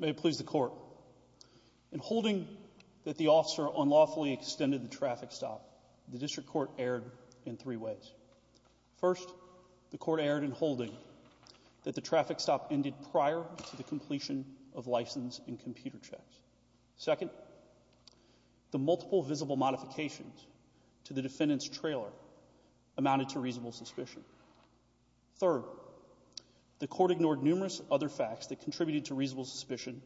May it please the Court, In holding that the officer unlawfully extended the traffic stop, the District Court erred in three ways. First, the Court erred in holding that the traffic stop ended prior to the completion of license and computer checks. Second, the multiple visible modifications to the defendant's trailer amounted to reasonable suspicion. Third, the Court ignored numerous other facts that contributed to reasonable suspicion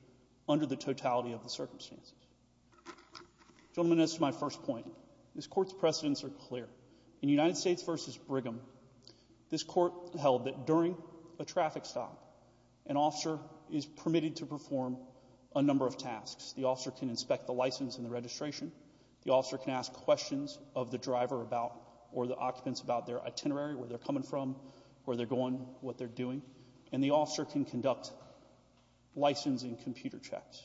under the totality of the circumstances. Gentlemen, as to my first point, this Court's precedents are clear. In United States v. Brigham, this Court held that during a traffic stop, an officer is able to conduct multiple tasks. The officer can inspect the license and the registration, the officer can ask questions of the driver about or the occupants about their itinerary, where they're coming from, where they're going, what they're doing, and the officer can conduct license and computer checks.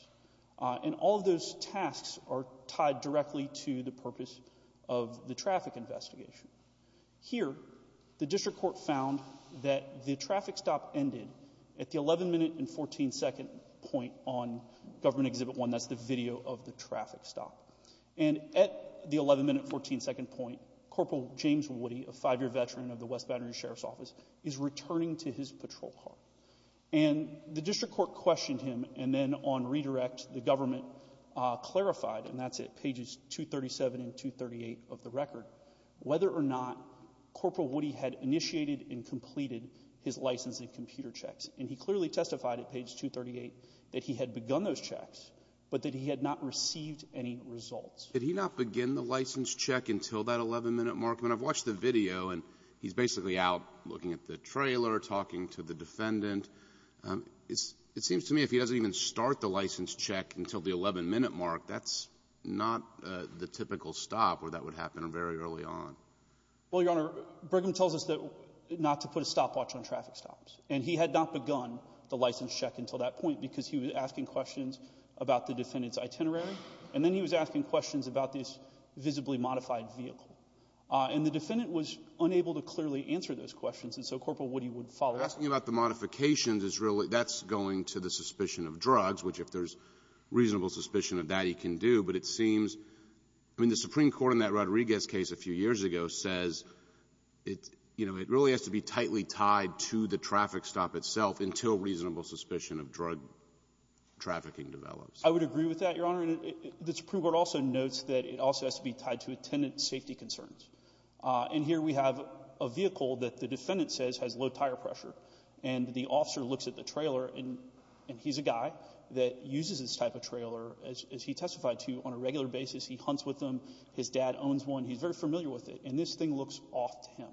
And all of those tasks are tied directly to the purpose of the traffic investigation. Here, the District Court found that the traffic stop ended at the 11 minute and 14 second point on Government Exhibit 1, that's the video of the traffic stop. And at the 11 minute and 14 second point, Corporal James Woody, a five-year veteran of the West Battery Sheriff's Office, is returning to his patrol car. And the District Court questioned him, and then on redirect, the government clarified, and that's at pages 237 and 238 of the record, whether or not Corporal Woody had initiated and completed his license and computer checks. And he clearly testified at page 238 that he had begun those checks, but that he had not received any results. Did he not begin the license check until that 11 minute mark? I mean, I've watched the video, and he's basically out looking at the trailer, talking to the defendant. It seems to me if he doesn't even start the license check until the 11 minute mark, that's not the typical stop where that would happen very early on. Well, Your Honor, Brigham tells us not to put a stopwatch on traffic stops. And he had not begun the license check until that point because he was asking questions about the defendant's itinerary, and then he was asking questions about this visibly modified vehicle. And the defendant was unable to clearly answer those questions, and so Corporal Woody would follow up. Asking about the modifications is really — that's going to the suspicion of drugs, which if there's reasonable suspicion of that, he can do, but it seems — I mean, the Supreme Court, as you know, says it really has to be tightly tied to the traffic stop itself until reasonable suspicion of drug trafficking develops. I would agree with that, Your Honor. The Supreme Court also notes that it also has to be tied to attendant safety concerns. And here we have a vehicle that the defendant says has low tire pressure, and the officer looks at the trailer, and he's a guy that uses this type of trailer, as he testified to, on a regular basis. He hunts with them. His dad owns one. He's very familiar with it. And this thing looks off to him.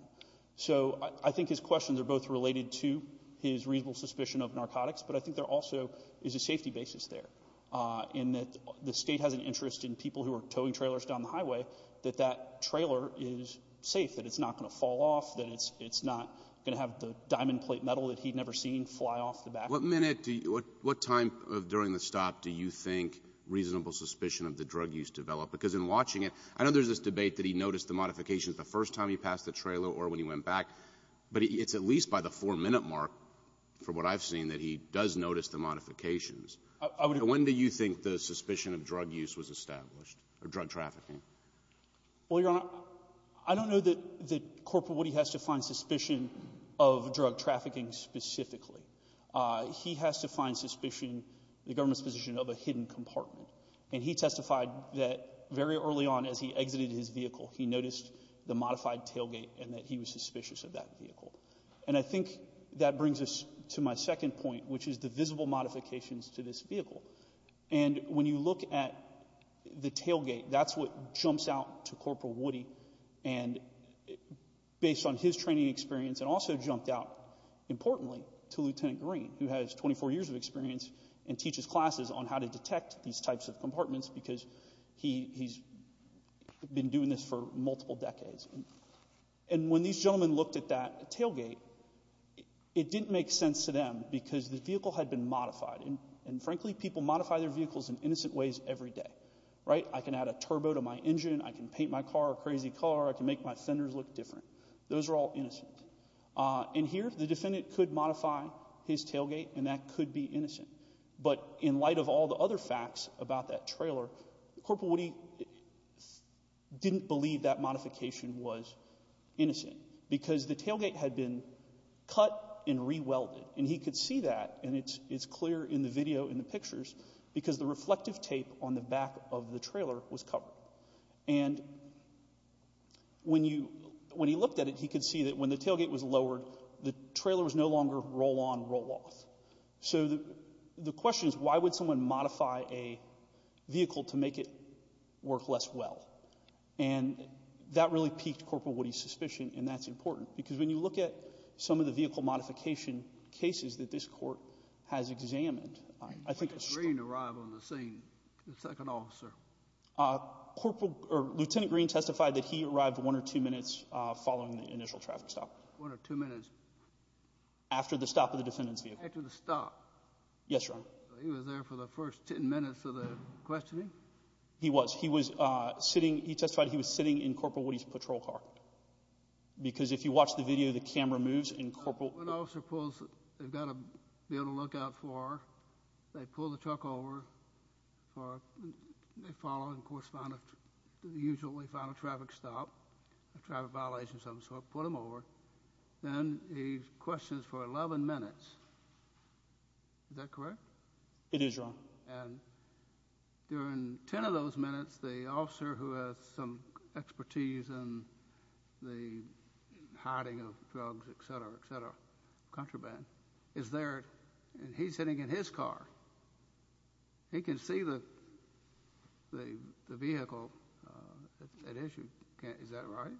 So I think his questions are both related to his reasonable suspicion of narcotics, but I think there also is a safety basis there, in that the State has an interest in people who are towing trailers down the highway, that that trailer is safe, that it's not going to fall off, that it's not going to have the diamond plate metal that he'd never seen fly off the back. What minute do you — what time during the stop do you think reasonable suspicion of the drug use developed? Because in watching it — I know there's this debate that he noticed the modifications the first time he passed the trailer or when he went back, but it's at least by the four-minute mark, from what I've seen, that he does notice the modifications. When do you think the suspicion of drug use was established, or drug trafficking? Well, Your Honor, I don't know that — that Corporal Woody has to find suspicion of drug trafficking specifically. He has to find suspicion, the government's position, of a hidden compartment. And he testified that very early on, as he exited his vehicle, he noticed the modified tailgate and that he was suspicious of that vehicle. And I think that brings us to my second point, which is the visible modifications to this vehicle. And when you look at the tailgate, that's what jumps out to Corporal Woody, and based on his training experience, it also jumped out, importantly, to Lieutenant Green, who has 24 years of experience and teaches classes on how to detect these types of compartments because he's been doing this for multiple decades. And when these gentlemen looked at that tailgate, it didn't make sense to them because the vehicle had been modified. And frankly, people modify their vehicles in innocent ways every day, right? I can add a turbo to my engine, I can paint my car a crazy color, I can make my fenders look different. Those are all innocent. And here, the defendant could modify his tailgate and that could be innocent. But in light of all the other facts about that trailer, Corporal Woody didn't believe that modification was innocent because the tailgate had been cut and re-welded. And he could see that, and it's clear in the video, in the pictures, because the reflective tape on the back of the trailer was covered. And when he looked at it, he could see that when the tailgate was lowered, the trailer was no longer roll-on, roll-off. So the question is, why would someone modify a vehicle to make it work less well? And that really piqued Corporal Woody's suspicion, and that's important, because when you look at some of the vehicle modification cases that this Court has examined, I think it's Lieutenant Green testified that he arrived one or two minutes following the initial traffic stop. One or two minutes? After the stop of the defendant's vehicle. After the stop? Yes, Your Honor. So he was there for the first ten minutes of the questioning? He was. He was sitting, he testified he was sitting in Corporal Woody's patrol car. Because if you watch the video, the camera moves, and Corporal... When an officer pulls, they've got to be able to look out for, they pull the truck over, they follow and correspond to the usual way to find a traffic stop, a traffic violation of some sort, put them over, then he questions for eleven minutes. Is that correct? It is, Your Honor. And during ten of those minutes, the officer who has some expertise in the hiding of drugs, etc., etc., contraband, is there, and he's sitting in his car, he can see the vehicle at issue. Is that right?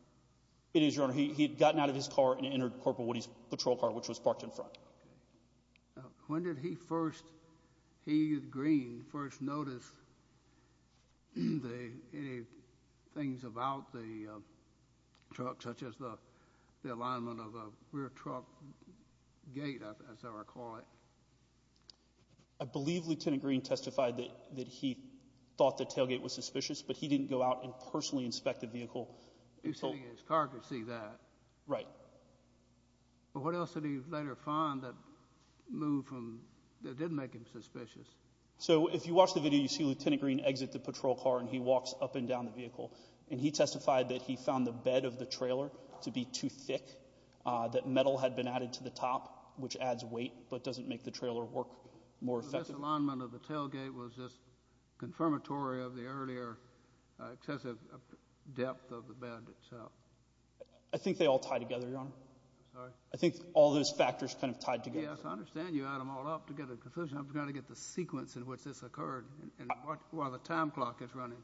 It is, Your Honor. He had gotten out of his car and entered Corporal Woody's patrol car, which was parked in front. When did he first, he, Green, first notice the, any things about the truck, such as the alignment of a rear truck gate, as I recall it? I believe Lieutenant Green testified that he thought the tailgate was suspicious, but he didn't go out and personally inspect the vehicle until... He was sitting in his car to see that. Right. But what else did he later find that moved from, that didn't make him suspicious? So if you watch the video, you see Lieutenant Green exit the patrol car, and he walks up and down the vehicle, and he testified that he found the bed of the trailer to be too thick, that metal had been added to the top, which adds weight, but doesn't make the trailer work more effectively. So this alignment of the tailgate was just confirmatory of the earlier excessive depth of the bed itself? I think they all tie together, Your Honor. Sorry? I think all those factors kind of tied together. Yes, I understand you add them all up to get a conclusion. I'm trying to get the sequence in which this occurred, and while the time clock is running.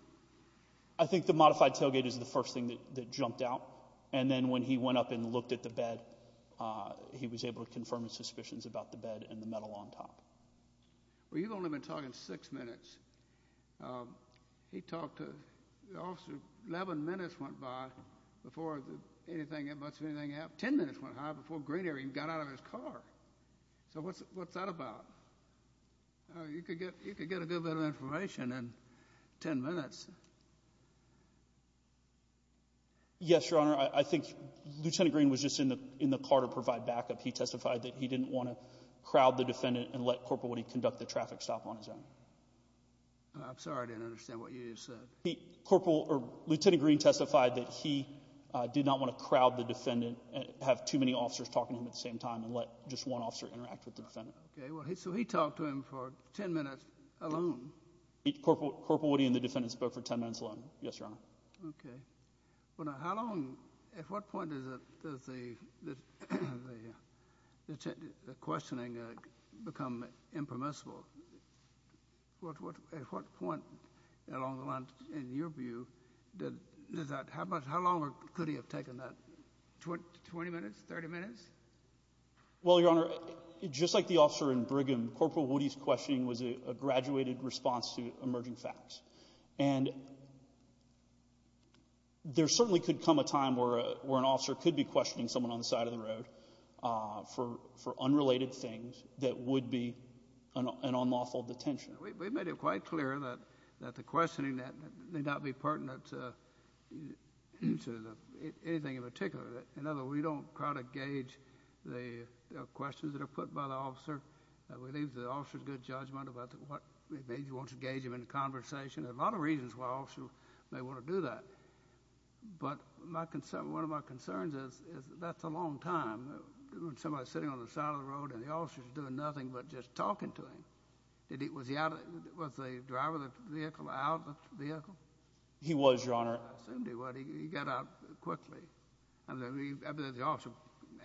I think the modified tailgate is the first thing that jumped out, and then when he went up and looked at the bed, he was able to confirm his suspicions about the bed and the metal on top. Well, you've only been talking six minutes. He talked to... The officer, 11 minutes went by before anything, much of anything happened, 10 minutes went high before Green even got out of his car. So what's that about? You could get a good bit of information in 10 minutes. Yes, Your Honor. I think Lieutenant Green was just in the car to provide backup. He testified that he didn't want to crowd the defendant and let Corporal Woody conduct the traffic stop on his own. I'm sorry, I didn't understand what you just said. Lieutenant Green testified that he did not want to crowd the defendant, have too many officers talking to him at the same time, and let just one officer interact with the defendant. Okay, so he talked to him for 10 minutes alone? Corporal Woody and the defendant spoke for 10 minutes alone, yes, Your Honor. Okay. Well, now, how long, at what point does the questioning become impermissible? At what point along the line, in your view, did that, how much, how long could he have taken that? 20 minutes? 30 minutes? Well, Your Honor, just like the officer in Brigham, Corporal Woody's questioning was a graduated response to emerging facts. And there certainly could come a time where an officer could be questioning someone on the side of the road for unrelated things that would be an unlawful detention. We made it quite clear that the questioning may not be pertinent to anything in particular. In other words, we don't try to gauge the questions that are put by the officer. We leave the officer's good judgment about what, maybe he wants to gauge them in a conversation. There are a lot of reasons why an officer may want to do that. But my concern, one of my concerns is that's a long time, when somebody's sitting on the side of the road and the officer's doing nothing but just talking to him. Was he out, was the driver of the vehicle out of the vehicle? He was, Your Honor. I assumed he was. He got out quickly. I mean, the officer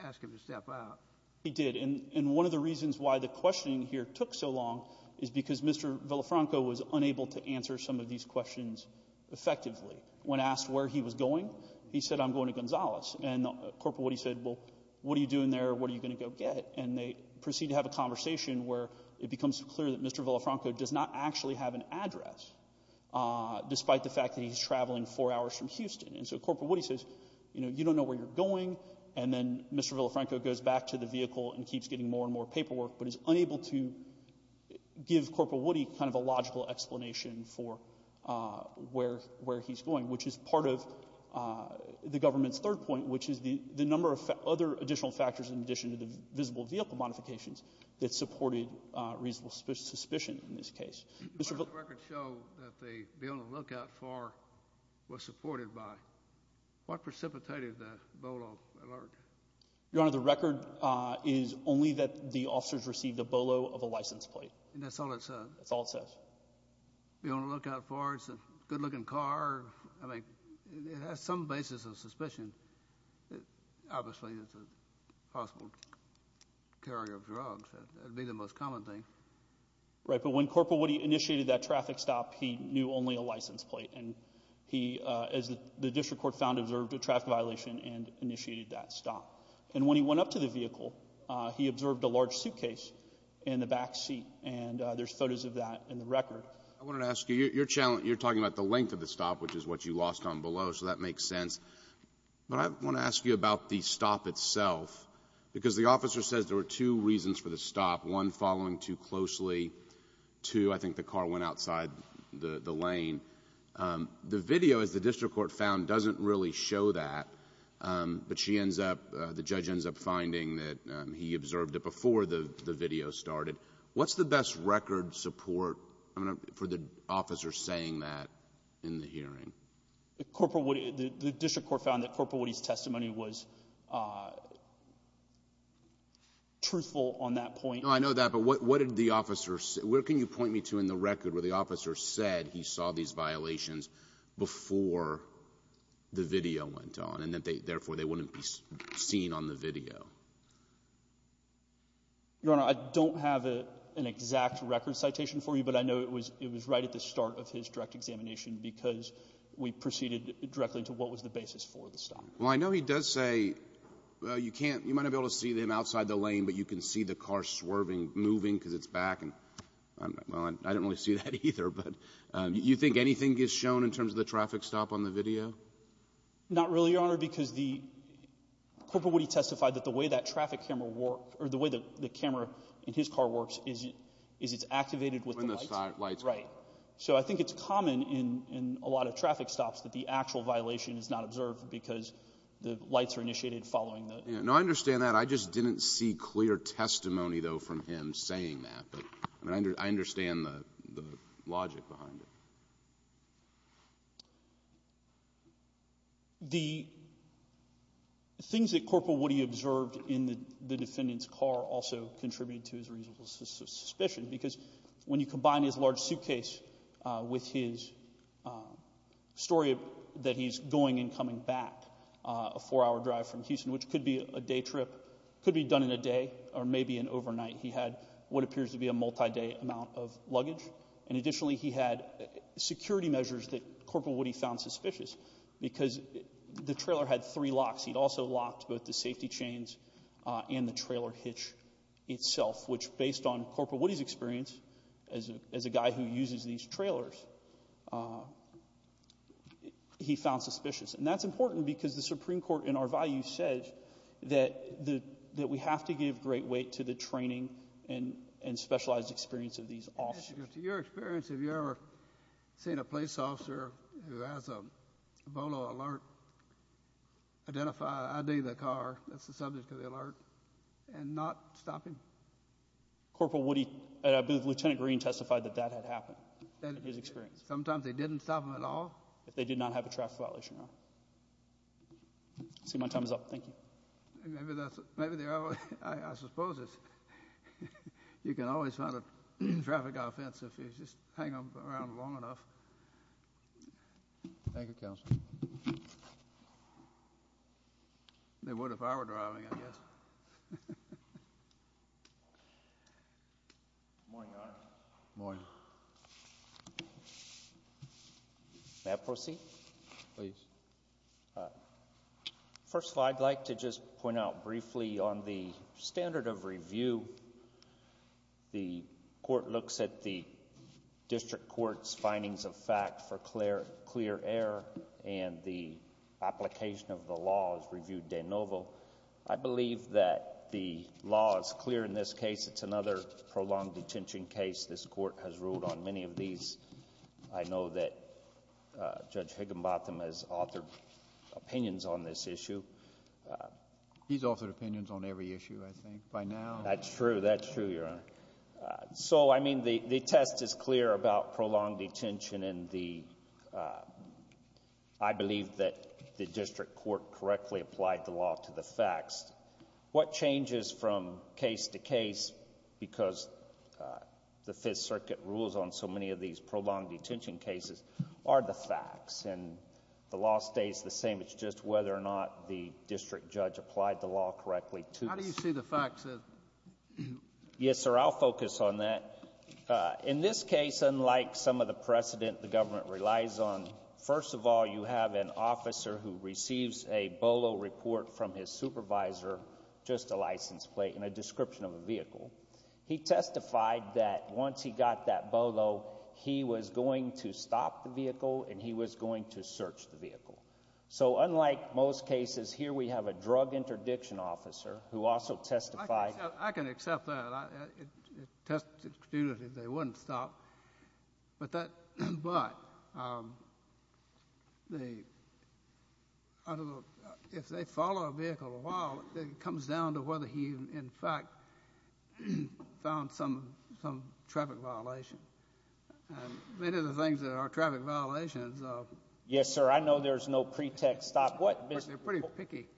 asked him to step out. He did. And one of the reasons why the questioning here took so long is because Mr. Villafranco was unable to answer some of these questions effectively. When asked where he was going, he said, I'm going to Gonzales. And Corporal Woody said, well, what are you doing there, what are you going to go get? And they proceed to have a conversation where it becomes clear that Mr. Villafranco does not actually have an address, despite the fact that he's traveling four hours from Houston. And so Corporal Woody says, you know, you don't know where you're going. And then Mr. Villafranco goes back to the vehicle and keeps getting more and more paperwork, but is unable to give Corporal Woody kind of a logical explanation for where he's going, which is part of the government's third point, which is the number of other additional factors in addition to the visible vehicle modifications that supported reasonable suspicion in this case. Your Honor, the records show that the Be On The Lookout For was supported by, what precipitated the Bolo alert? Your Honor, the record is only that the officers received a Bolo of a license plate. And that's all it says? That's all it says. Be On The Lookout For, it's a good looking car, I mean, it has some basis of suspicion. Obviously, it's a possible carrier of drugs, that would be the most common thing. Right, but when Corporal Woody initiated that traffic stop, he knew only a license plate. And he, as the district court found, observed a traffic violation and initiated that stop. And when he went up to the vehicle, he observed a large suitcase in the back seat. And there's photos of that in the record. I wanted to ask you, you're talking about the length of the stop, which is what you lost on Bolo, so that makes sense. But I want to ask you about the stop itself, because the officer says there were two reasons for the stop. One, following too closely, two, I think the car went outside the lane. The video, as the district court found, doesn't really show that, but she ends up, the judge ends up finding that he observed it before the video started. What's the best record support for the officer saying that in the hearing? The district court found that Corporal Woody's testimony was truthful on that point. No, I know that, but what did the officer say, where can you point me to in the record where the officer said he saw these violations before the video went on, and that therefore they wouldn't be seen on the video? Your Honor, I don't have an exact record citation for you, but I know it was right at the start of his direct examination, because we proceeded directly to what was the basis for the stop. Well, I know he does say, well, you can't, you might not be able to see them outside the lane, but you can see the car swerving, moving, because it's back, and, well, I didn't really see that either, but do you think anything is shown in terms of the traffic stop on the video? Not really, Your Honor, because the, Corporal Woody testified that the way that traffic camera worked, or the way the camera in his car works is it's activated with the lights. Right. Right. So I think it's common in a lot of traffic stops that the actual violation is not observed because the lights are initiated following the. No, I understand that. I just didn't see clear testimony, though, from him saying that, but I understand the logic behind it. The things that Corporal Woody observed in the defendant's car also contributed to his reasonable suspicion, because when you combine his large suitcase with his story that he's going and coming back, a four-hour drive from Houston, which could be a day trip, could be done in a day, or maybe in overnight, he had what appears to be a multi-day amount of luggage, and additionally, he had security measures that Corporal Woody found suspicious, because the trailer had three locks. He had also locked both the safety chains and the trailer hitch itself, which, based on Corporal Woody's experience as a guy who uses these trailers, he found suspicious. And that's important because the Supreme Court, in our value, says that we have to give great weight to the training and specialized experience of these officers. To your experience, have you ever seen a police officer who has a BOLO alert identify an ID to the car, that's the subject of the alert, and not stop him? Corporal Woody, I believe Lieutenant Green testified that that had happened, in his experience. Sometimes they didn't stop him at all? If they did not have a traffic violation, no. I see my time is up. Thank you. I suppose you can always find a traffic offense if you just hang around long enough. Thank you, Counselor. They would if I were driving, I guess. Good morning, Your Honor. Good morning. May I proceed? Please. First of all, I'd like to just point out briefly on the standard of review. The Court looks at the District Court's findings of fact for clear error and the application of the law as reviewed de novo. I believe that the law is clear in this case. It's another prolonged detention case. This Court has ruled on many of these. I know that Judge Higginbotham has authored opinions on this issue. He's authored opinions on every issue, I think, by now. That's true. That's true, Your Honor. So, I mean, the test is clear about prolonged detention, and I believe that the District Court correctly applied the law to the facts. What changes from case to case, because the Fifth Circuit rules on so many of these prolonged detention cases, are the facts. And the law stays the same. It's just whether or not the District Judge applied the law correctly to this. How do you see the facts? Yes, sir. I'll focus on that. In this case, unlike some of the precedent the government relies on, first of all, you have an officer who receives a BOLO report from his supervisor, just a license plate and a description of a vehicle. He testified that once he got that BOLO, he was going to stop the vehicle, and he was going to search the vehicle. So, unlike most cases, here we have a drug interdiction officer who also testified... I can accept that. They wouldn't stop. But, if they follow a vehicle a while, it comes down to whether he, in fact, found some traffic violation. Many of the things that are traffic violations... Yes, sir. I know there's no pretext stop. They're pretty picky.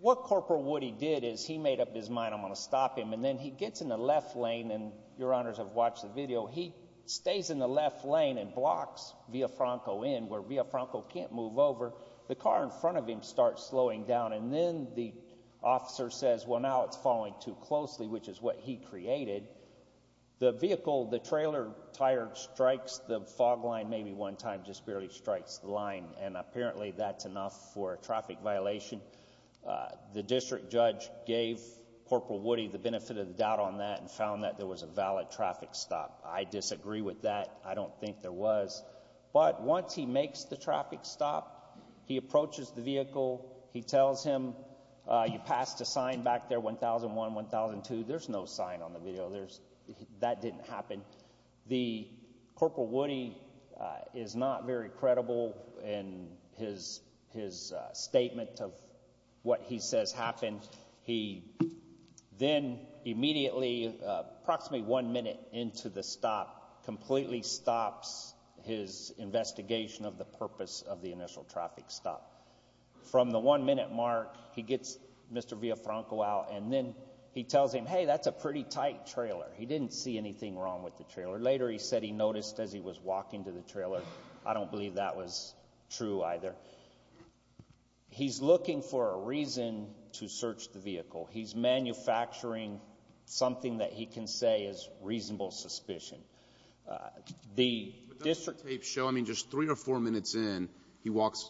What Corporal Woody did is he made up his mind, I'm going to stop him. And then he gets in the left lane, and your honors have watched the video, he stays in the left lane and blocks Villafranco Inn, where Villafranco can't move over. The car in front of him starts slowing down, and then the officer says, well, now it's following too closely, which is what he created. The vehicle, the trailer tire strikes the fog line maybe one time, just barely strikes the line, and apparently that's enough for a traffic violation. The district judge gave Corporal Woody the benefit of the doubt on that and found that there was a valid traffic stop. I disagree with that. I don't think there was. But, once he makes the traffic stop, he approaches the vehicle, he tells him, you passed a sign back there, 1001, 1002. There's no sign on the video. That didn't happen. The Corporal Woody is not very credible in his statement of what he says happened. He then immediately, approximately one minute into the stop, completely stops his investigation of the purpose of the initial traffic stop. From the one minute mark, he gets Mr. Villafranco out, and then he tells him, hey, that's a pretty tight trailer. He didn't see anything wrong with the trailer. Later, he said he noticed as he was walking to the trailer. I don't believe that was true either. He's looking for a reason to search the vehicle. He's manufacturing something that he can say is reasonable suspicion. The district... But doesn't the tape show, I mean, just three or four minutes in,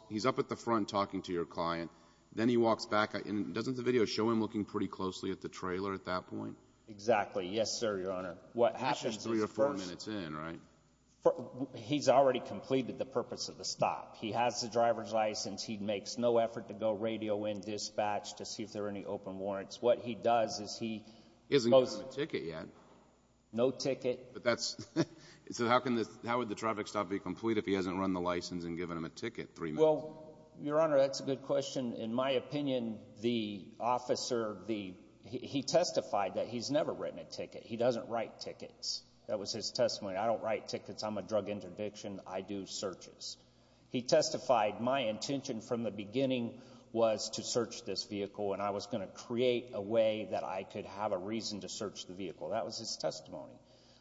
he's up at the front talking to your client. Then he walks back. Doesn't the video show him looking pretty closely at the trailer at that point? Exactly. Yes, sir, Your Honor. What happens is... Just three or four minutes in, right? He's already completed the purpose of the stop. He has the driver's license. He makes no effort to go radio in, dispatch, to see if there are any open warrants. What he does is he... He hasn't given him a ticket yet. No ticket. But that's... So how would the traffic stop be complete if he hasn't run the license and given him a ticket three minutes in? Well, Your Honor, that's a good question. In my opinion, the officer, he testified that he's never written a ticket. He doesn't write tickets. That was his testimony. I don't write tickets. I'm a drug interdiction. I do searches. He testified, my intention from the beginning was to search this vehicle, and I was going to create a way that I could have a reason to search the vehicle. That was his testimony.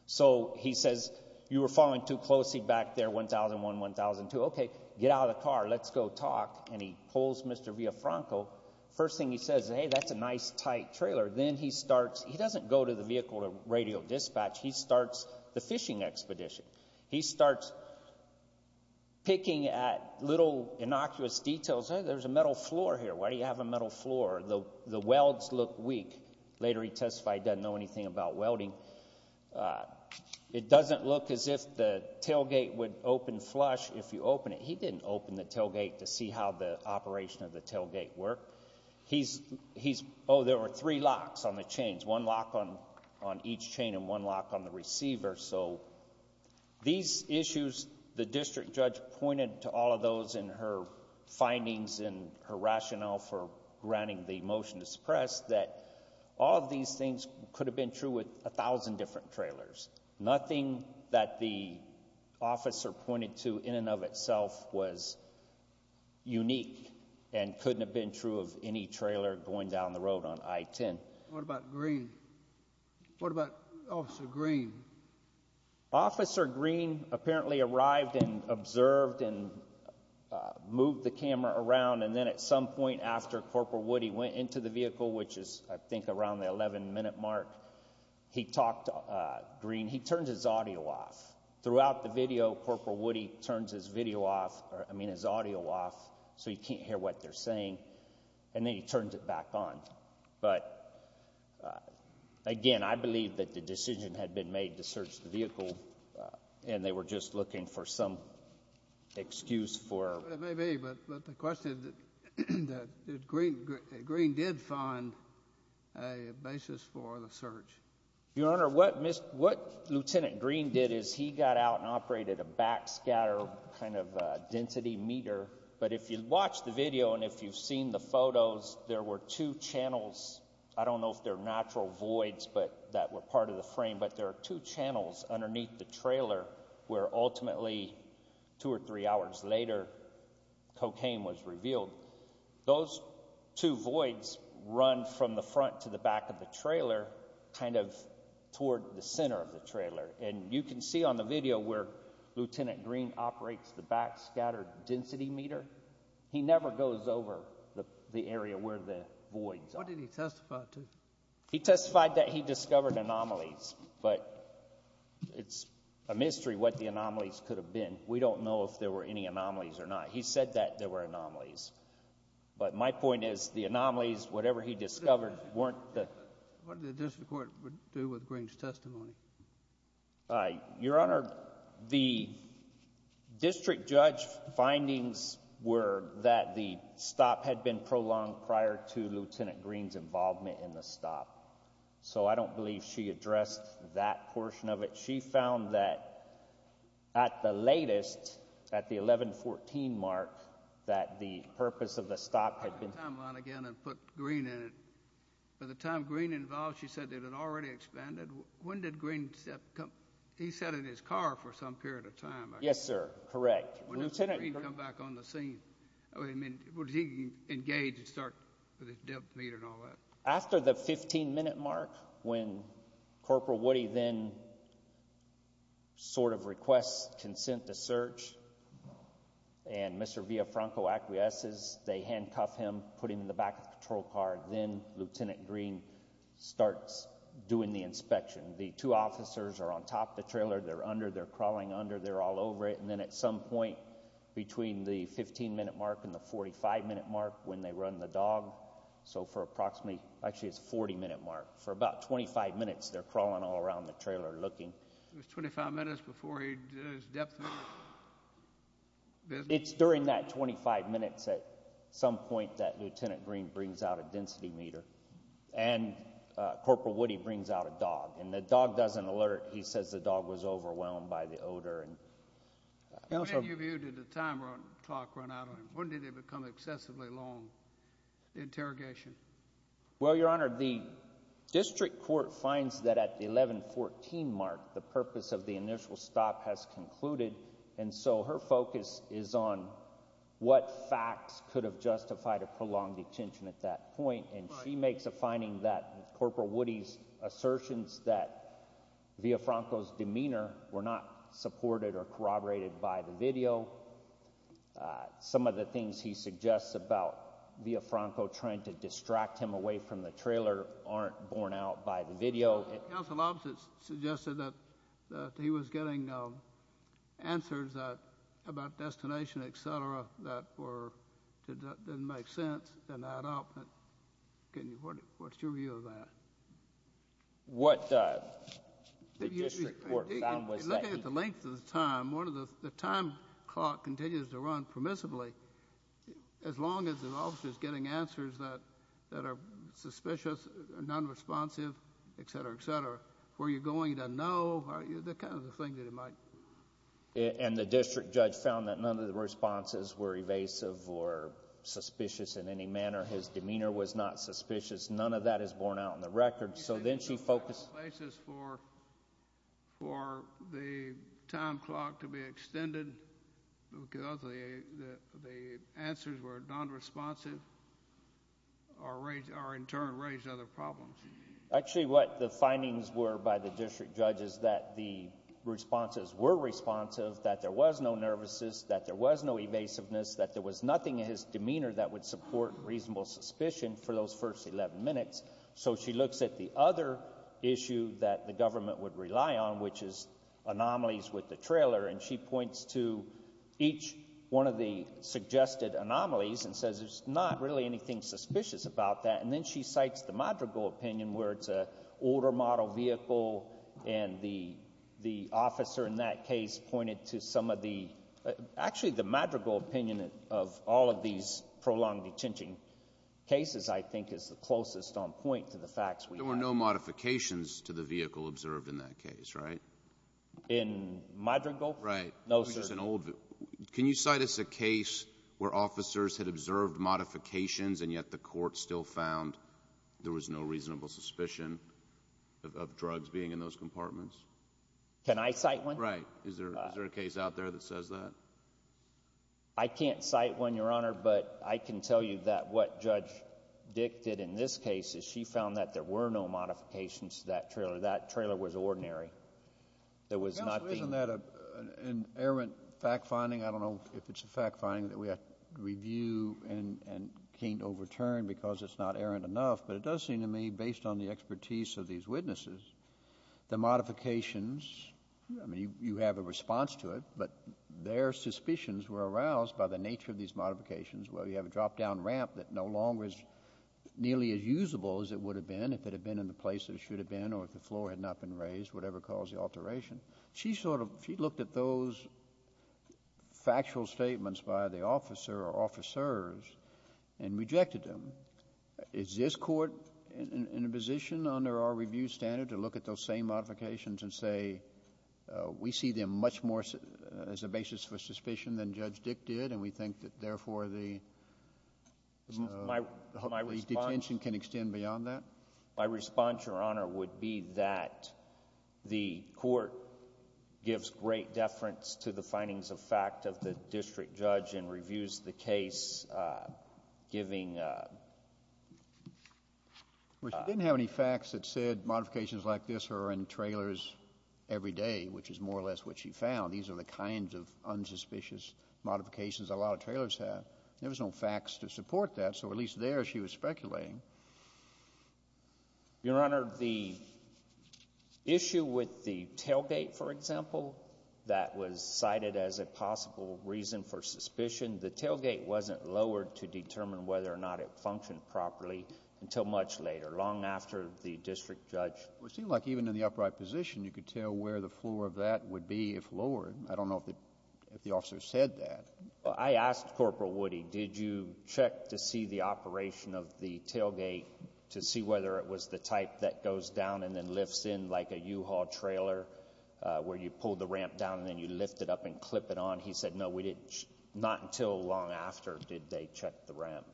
So he says, you were following too closely back there, 1001, 1002. Okay, get out of the car. Let's go talk. And he pulls Mr. Villafranco. First thing he says, hey, that's a nice, tight trailer. Then he starts... He doesn't go to the vehicle to radio dispatch. He starts the fishing expedition. He starts picking at little, innocuous details. Hey, there's a metal floor here. Why do you have a metal floor? The welds look weak. Later he testified he doesn't know anything about welding. It doesn't look as if the tailgate would open flush if you open it. He didn't open the tailgate to see how the operation of the tailgate worked. He's... Oh, there were three locks on the chains, one lock on each chain and one lock on the receiver. So these issues, the district judge pointed to all of those in her findings and her rationale for granting the motion to suppress that all of these things could have been true with 1,000 different trailers. Nothing that the officer pointed to in and of itself was unique and couldn't have been true of any trailer going down the road on I-10. What about Greene? What about Officer Greene? Officer Greene apparently arrived and observed and moved the camera around. And then at some point after Corporal Woody went into the vehicle, which is I think around the 11-minute mark, he talked to Greene. He turned his audio off. Throughout the video, Corporal Woody turns his video off, I mean his audio off so he can't hear what they're saying. And then he turns it back on. But again, I believe that the decision had been made to search the vehicle and they were just looking for some excuse for... It may be, but the question is that Greene did find a basis for the search. Your Honor, what Lieutenant Greene did is he got out and operated a backscatter kind of density meter. But if you watch the video and if you've seen the photos, there were two channels. I don't know if they're natural voids that were part of the frame, but there are two cocaine was revealed. Those two voids run from the front to the back of the trailer, kind of toward the center of the trailer. And you can see on the video where Lieutenant Greene operates the backscatter density meter, he never goes over the area where the voids are. What did he testify to? He testified that he discovered anomalies, but it's a mystery what the anomalies could have been. We don't know if there were any anomalies or not. He said that there were anomalies. But my point is the anomalies, whatever he discovered, weren't the... What did the district court do with Greene's testimony? Your Honor, the district judge findings were that the stop had been prolonged prior to Lieutenant Greene's involvement in the stop. So I don't believe she addressed that portion of it. But she found that at the latest, at the 11-14 mark, that the purpose of the stop had been... Go back to the timeline again and put Greene in it. By the time Greene involved, she said that it had already expanded. When did Greene come... He sat in his car for some period of time. Yes, sir. Correct. When did Greene come back on the scene? I mean, was he engaged to start with his depth meter and all that? After the 15-minute mark, when Corporal Woody then sort of requests consent to search, and Mr. Villafranco acquiesces, they handcuff him, put him in the back of the patrol car. Then Lieutenant Greene starts doing the inspection. The two officers are on top of the trailer. They're under. They're crawling under. They're all over it. And then at some point between the 15-minute mark and the 45-minute mark, when they run the dog, so for approximately... Actually, it's 40-minute mark. For about 25 minutes, they're crawling all around the trailer looking. It was 25 minutes before he did his depth meter? It's during that 25 minutes at some point that Lieutenant Greene brings out a density meter, and Corporal Woody brings out a dog. And the dog doesn't alert. He says the dog was overwhelmed by the odor. How many of you did the time clock run out on him? When did it become excessively long? Interrogation. Well, Your Honor, the district court finds that at the 11-14 mark, the purpose of the initial stop has concluded, and so her focus is on what facts could have justified a prolonged detention at that point. And she makes a finding that Corporal Woody's assertions that Villafranco's demeanor were not supported or corroborated by the video. Some of the things he suggests about Villafranco trying to distract him away from the trailer aren't borne out by the video. Counsel opposite suggested that he was getting answers about destination, et cetera, that didn't make sense and add up. What's your view of that? What the district court found was that he... Looking at the length of the time, the time clock continues to run permissibly as long as an officer is getting answers that are suspicious, nonresponsive, et cetera, et cetera. Where you're going, he doesn't know. They're kind of the things that he might... And the district judge found that none of the responses were evasive or suspicious in any manner. His demeanor was not suspicious. None of that is borne out in the record. So then she focused... Places for the time clock to be extended because the answers were nonresponsive or in turn raised other problems. Actually, what the findings were by the district judge is that the responses were responsive, that there was no nervousness, that there was no evasiveness, that there was nothing in his demeanor that would support reasonable suspicion for those first 11 minutes. So she looks at the other issue that the government would rely on, which is anomalies with the trailer, and she points to each one of the suggested anomalies and says there's not really anything suspicious about that. And then she cites the Madrigal opinion where it's an older model vehicle and the officer in that case pointed to some of the... Actually, the Madrigal opinion of all of these prolonged detention cases, I think, is the closest on point to the facts we have. There were no modifications to the vehicle observed in that case, right? In Madrigal? Right. No, sir. Can you cite us a case where officers had observed modifications and yet the court still found there was no reasonable suspicion of drugs being in those compartments? Can I cite one? Right. Is there a case out there that says that? I can't cite one, Your Honor, but I can tell you that what Judge Dick did in this case is she found that there were no modifications to that trailer. That trailer was ordinary. Counsel, isn't that an errant fact-finding? I don't know if it's a fact-finding that we have to review and can't overturn because it's not errant enough, but it does seem to me, based on the expertise of these witnesses, the modifications, I mean, you have a response to it, but their suspicions were aroused by the nature of these modifications. Well, you have a drop-down ramp that no longer is nearly as usable as it would have been if it had been in the place that it should have been or if the floor had not been raised, whatever caused the alteration. She looked at those factual statements by the officer or officers and rejected them. Is this court in a position under our review standard to look at those same modifications and say we see them much more as a basis for suspicion than Judge Dick did and we think that therefore the detention can extend beyond that? My response, Your Honor, would be that the court gives great deference to the findings of fact of the district judge and reviews the case giving... Well, she didn't have any facts that said modifications like this are in trailers every day, which is more or less what she found. These are the kinds of unsuspicious modifications a lot of trailers have. There was no facts to support that, so at least there she was speculating. Your Honor, the issue with the tailgate, for example, that was cited as a possible reason for suspicion, the tailgate wasn't lowered to determine whether or not it functioned properly until much later, long after the district judge... Well, it seemed like even in the upright position, you could tell where the floor of that would be if lowered. I don't know if the officer said that. I asked Corporal Woody, did you check to see the operation of the tailgate to see whether it was the type that goes down and then lifts in like a U-Haul trailer where you pull the ramp down and then you lift it up and clip it on? He said, no, not until long after did they check the ramp.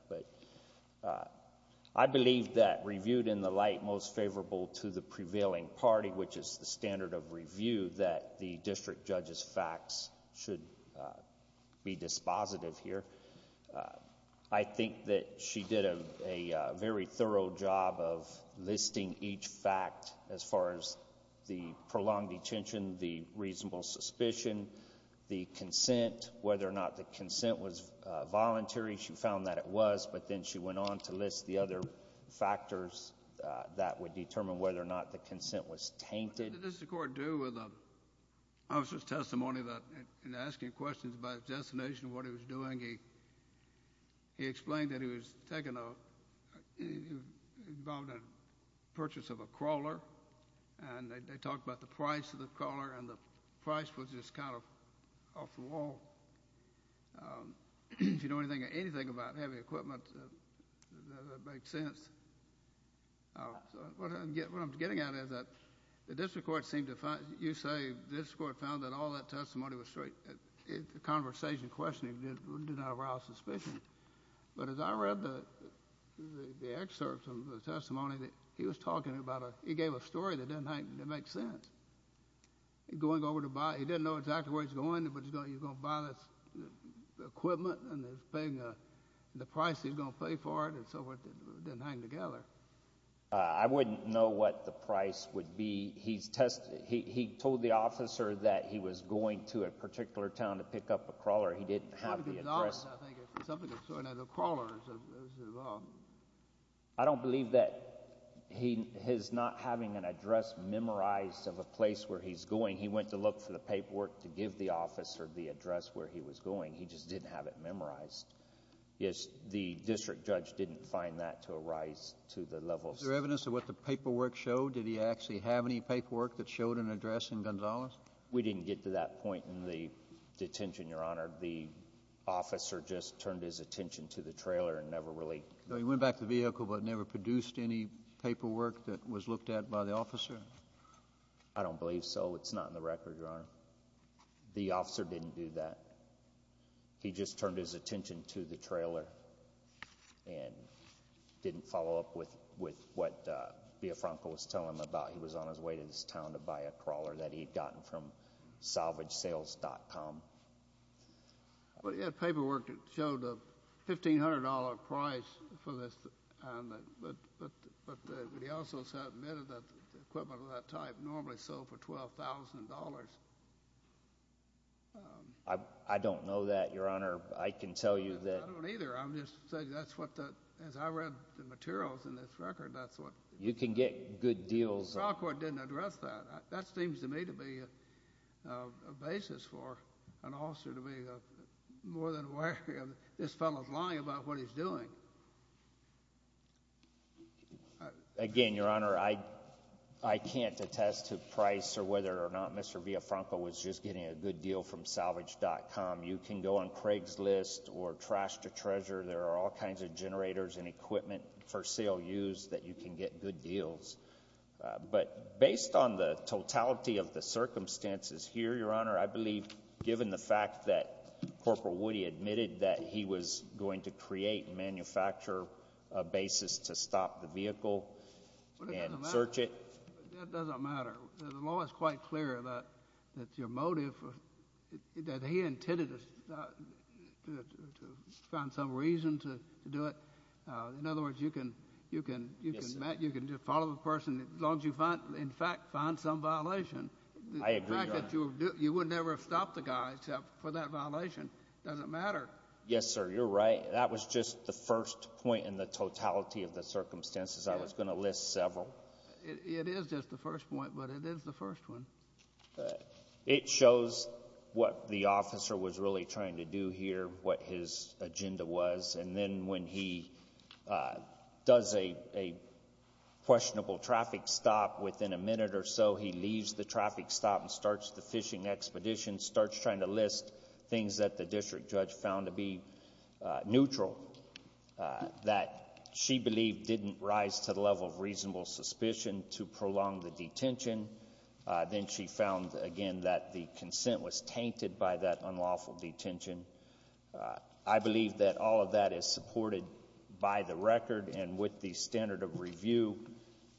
I believe that reviewed in the light most favorable to the prevailing party, which is the standard of review, that the district judge's facts should be dispositive here. I think that she did a very thorough job of listing each fact as far as the prolonged detention, the reasonable suspicion, the consent, whether or not the consent was voluntary. She found that it was, but then she went on to list the other factors that would determine whether or not the consent was tainted. What did the district court do with the officer's testimony in asking questions about his destination and what he was doing? He explained that he was involved in the purchase of a crawler, and they talked about the price of the crawler, and the price was just kind of off the wall. If you know anything about heavy equipment, that makes sense. What I'm getting at is that the district court seemed to find— you say the district court found that all that testimony was straight. The conversation questioning did not arouse suspicion. But as I read the excerpts of the testimony, he was talking about a— he was telling a story that didn't make sense. He didn't know exactly where he was going, but he was going to buy this equipment and he was paying the price he was going to pay for it and so forth. It didn't hang together. I wouldn't know what the price would be. He told the officer that he was going to a particular town to pick up a crawler. He didn't have the address. Something to do with the crawlers. I don't believe that he is not having an address memorized of a place where he's going. He went to look for the paperwork to give the officer the address where he was going. He just didn't have it memorized. Yes, the district judge didn't find that to arise to the level— Was there evidence of what the paperwork showed? Did he actually have any paperwork that showed an address in Gonzales? We didn't get to that point in the detention, Your Honor. The officer just turned his attention to the trailer and never really— He went back to the vehicle but never produced any paperwork that was looked at by the officer? I don't believe so. It's not in the record, Your Honor. The officer didn't do that. He just turned his attention to the trailer and didn't follow up with what Biafranco was telling him about. He was on his way to this town to buy a crawler that he had gotten from salvagesales.com. He had paperwork that showed a $1,500 price for this. But he also submitted that the equipment of that type normally sold for $12,000. I don't know that, Your Honor. I can tell you that— I don't either. I'm just saying that's what the—as I read the materials in this record, that's what— You can get good deals— The trial court didn't address that. That seems to me to be a basis for an officer to be more than aware of this fellow's lying about what he's doing. Again, Your Honor, I can't attest to price or whether or not Mr. Biafranco was just getting a good deal from salvagesales.com. You can go on Craigslist or Trash to Treasure. There are all kinds of generators and equipment for sale used that you can get good deals. But based on the totality of the circumstances here, Your Honor, I believe given the fact that Corporal Woody admitted that he was going to create and manufacture a basis to stop the vehicle and search it— In other words, you can follow a person as long as you, in fact, find some violation. I agree, Your Honor. The fact that you would never have stopped the guy except for that violation doesn't matter. Yes, sir. You're right. That was just the first point in the totality of the circumstances. I was going to list several. It is just the first point, but it is the first one. It shows what the officer was really trying to do here, what his agenda was. And then when he does a questionable traffic stop, within a minute or so he leaves the traffic stop and starts the fishing expedition, starts trying to list things that the district judge found to be neutral that she believed didn't rise to the level of reasonable suspicion to prolong the detention. Then she found, again, that the consent was tainted by that unlawful detention. I believe that all of that is supported by the record and with the standard of review.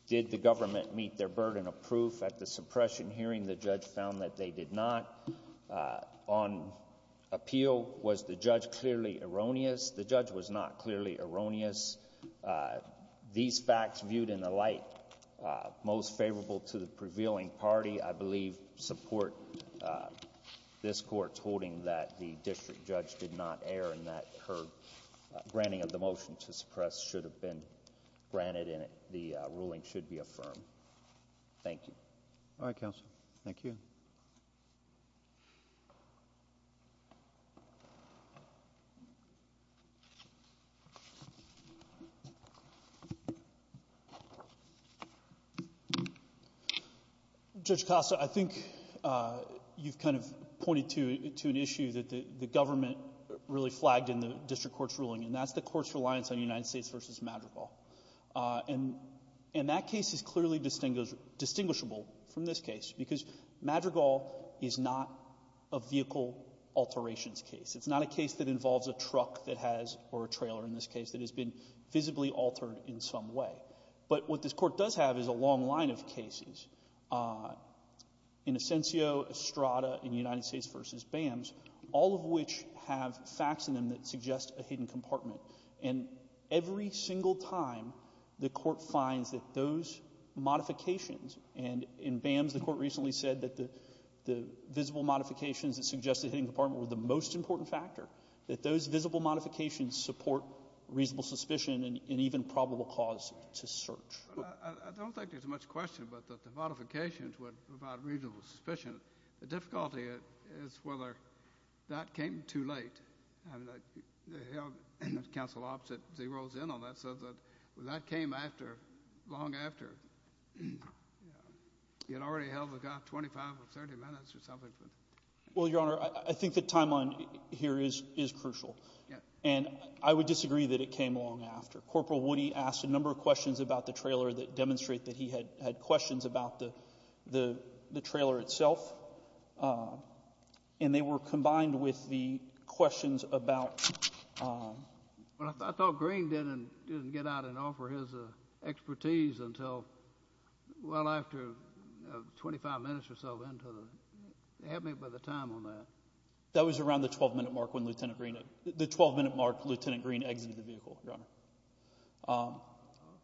Did the government meet their burden of proof at the suppression hearing? The judge found that they did not. On appeal, was the judge clearly erroneous? The judge was not clearly erroneous. These facts viewed in the light most favorable to the prevailing party, I believe, support this court's holding that the district judge did not err and that her granting of the motion to suppress should have been granted and the ruling should be affirmed. Thank you. All right, counsel. Thank you. Judge Costa, I think you've kind of pointed to an issue that the government really flagged in the district court's ruling, and that's the court's reliance on United States v. Madrigal. And that case is clearly distinguishable from this case because Madrigal is not a vehicle alterations case. It's not a case that involves a truck that has, or a trailer in this case, that has been visibly altered in some way. But what this court does have is a long line of cases in Ascensio, Estrada, and United States v. BAMS, all of which have facts in them that suggest a hidden compartment. And every single time the court finds that those modifications, and in BAMS the court recently said that the visible modifications that suggest a hidden compartment were the most important factor, that those visible modifications support reasonable suspicion and even probable cause to search. I don't think there's much question but that the modifications would provide reasonable suspicion. The difficulty is whether that came too late. The counsel opposite, as he rolls in on that, said that that came after, long after. It already held about 25 or 30 minutes or something. Well, Your Honor, I think the timeline here is crucial, and I would disagree that it came long after. Corporal Woody asked a number of questions about the trailer that demonstrate that he had questions about the trailer itself, and they were combined with the questions about— I thought Green didn't get out and offer his expertise until well after 25 minutes or so. Help me by the time on that. That was around the 12-minute mark when Lt. Green—the 12-minute mark when Lt. Green exited the vehicle, Your Honor.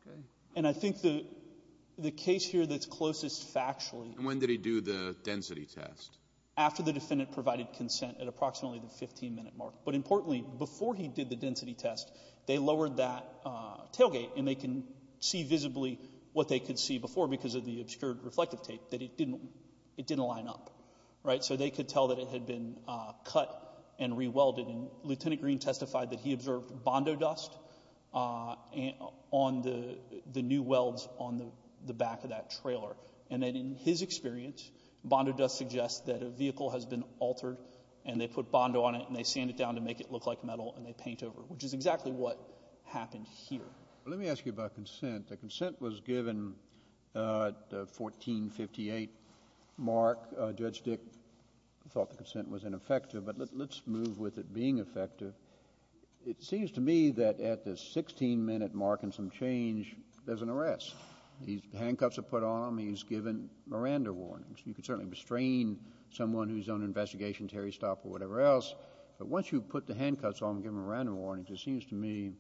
Okay. And I think the case here that's closest factually— After the defendant provided consent at approximately the 15-minute mark. But importantly, before he did the density test, they lowered that tailgate, and they can see visibly what they could see before because of the obscured reflective tape, that it didn't line up. So they could tell that it had been cut and re-welded, and Lt. Green testified that he observed Bondo dust on the new welds on the back of that trailer. And that in his experience, Bondo dust suggests that a vehicle has been altered, and they put Bondo on it, and they sand it down to make it look like metal, and they paint over it, which is exactly what happened here. Let me ask you about consent. The consent was given at the 14-58 mark. Judge Dick thought the consent was ineffective. But let's move with it being effective. It seems to me that at the 16-minute mark and some change, there's an arrest. These handcuffs are put on him. He's given Miranda warnings. You can certainly restrain someone who's on an investigation, Terry Stopp or whatever else, but once you put the handcuffs on him and give him Miranda warnings, it seems to me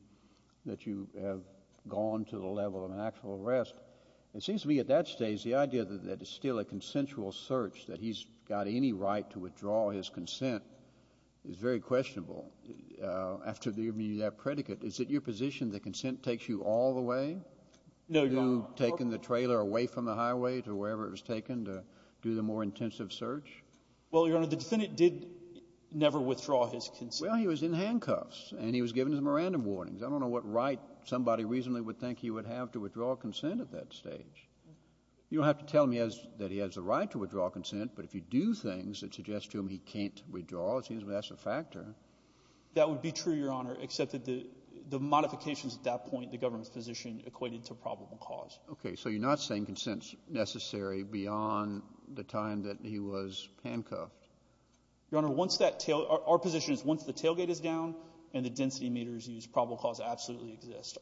that you have gone to the level of an actual arrest. It seems to me at that stage the idea that it's still a consensual search, that he's got any right to withdraw his consent, is very questionable. After giving you that predicate, is it your position that consent takes you all the way? No, Your Honor. You've taken the trailer away from the highway to wherever it was taken to do the more intensive search? Well, Your Honor, the defendant did never withdraw his consent. Well, he was in handcuffs, and he was given Miranda warnings. I don't know what right somebody reasonably would think he would have to withdraw consent at that stage. You don't have to tell me that he has the right to withdraw consent, but if you do things that suggest to him he can't withdraw, it seems to me that's a factor. That would be true, Your Honor, except that the modifications at that point, the government's position equated to probable cause. Okay. So you're not saying consent is necessary beyond the time that he was handcuffed? Your Honor, once that tail – our position is once the tailgate is down and the density meter is used, probable cause absolutely exists.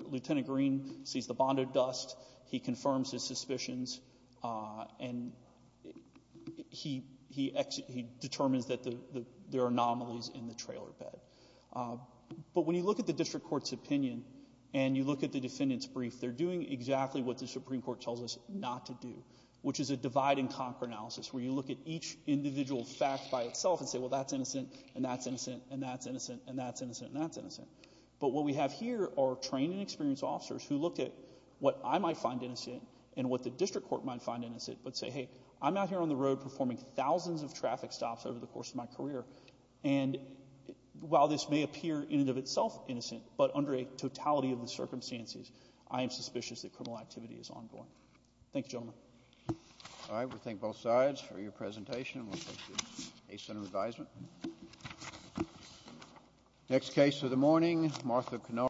Lieutenant Green sees the bond of dust. He confirms his suspicions. And he determines that there are anomalies in the trailer bed. But when you look at the district court's opinion and you look at the defendant's brief, they're doing exactly what the Supreme Court tells us not to do, which is a divide-and-conquer analysis, where you look at each individual fact by itself and say, well, that's innocent and that's innocent and that's innocent and that's innocent and that's innocent. But what we have here are trained and experienced officers who look at what I might find innocent and what the district court might find innocent but say, hey, I'm out here on the road performing thousands of traffic stops over the course of my career. And while this may appear in and of itself innocent, but under a totality of the circumstances, I am suspicious that criminal activity is ongoing. Thank you, gentlemen. All right. We thank both sides for your presentation. We'll take this to a center of advisement. Next case of the morning, Martha Canaro.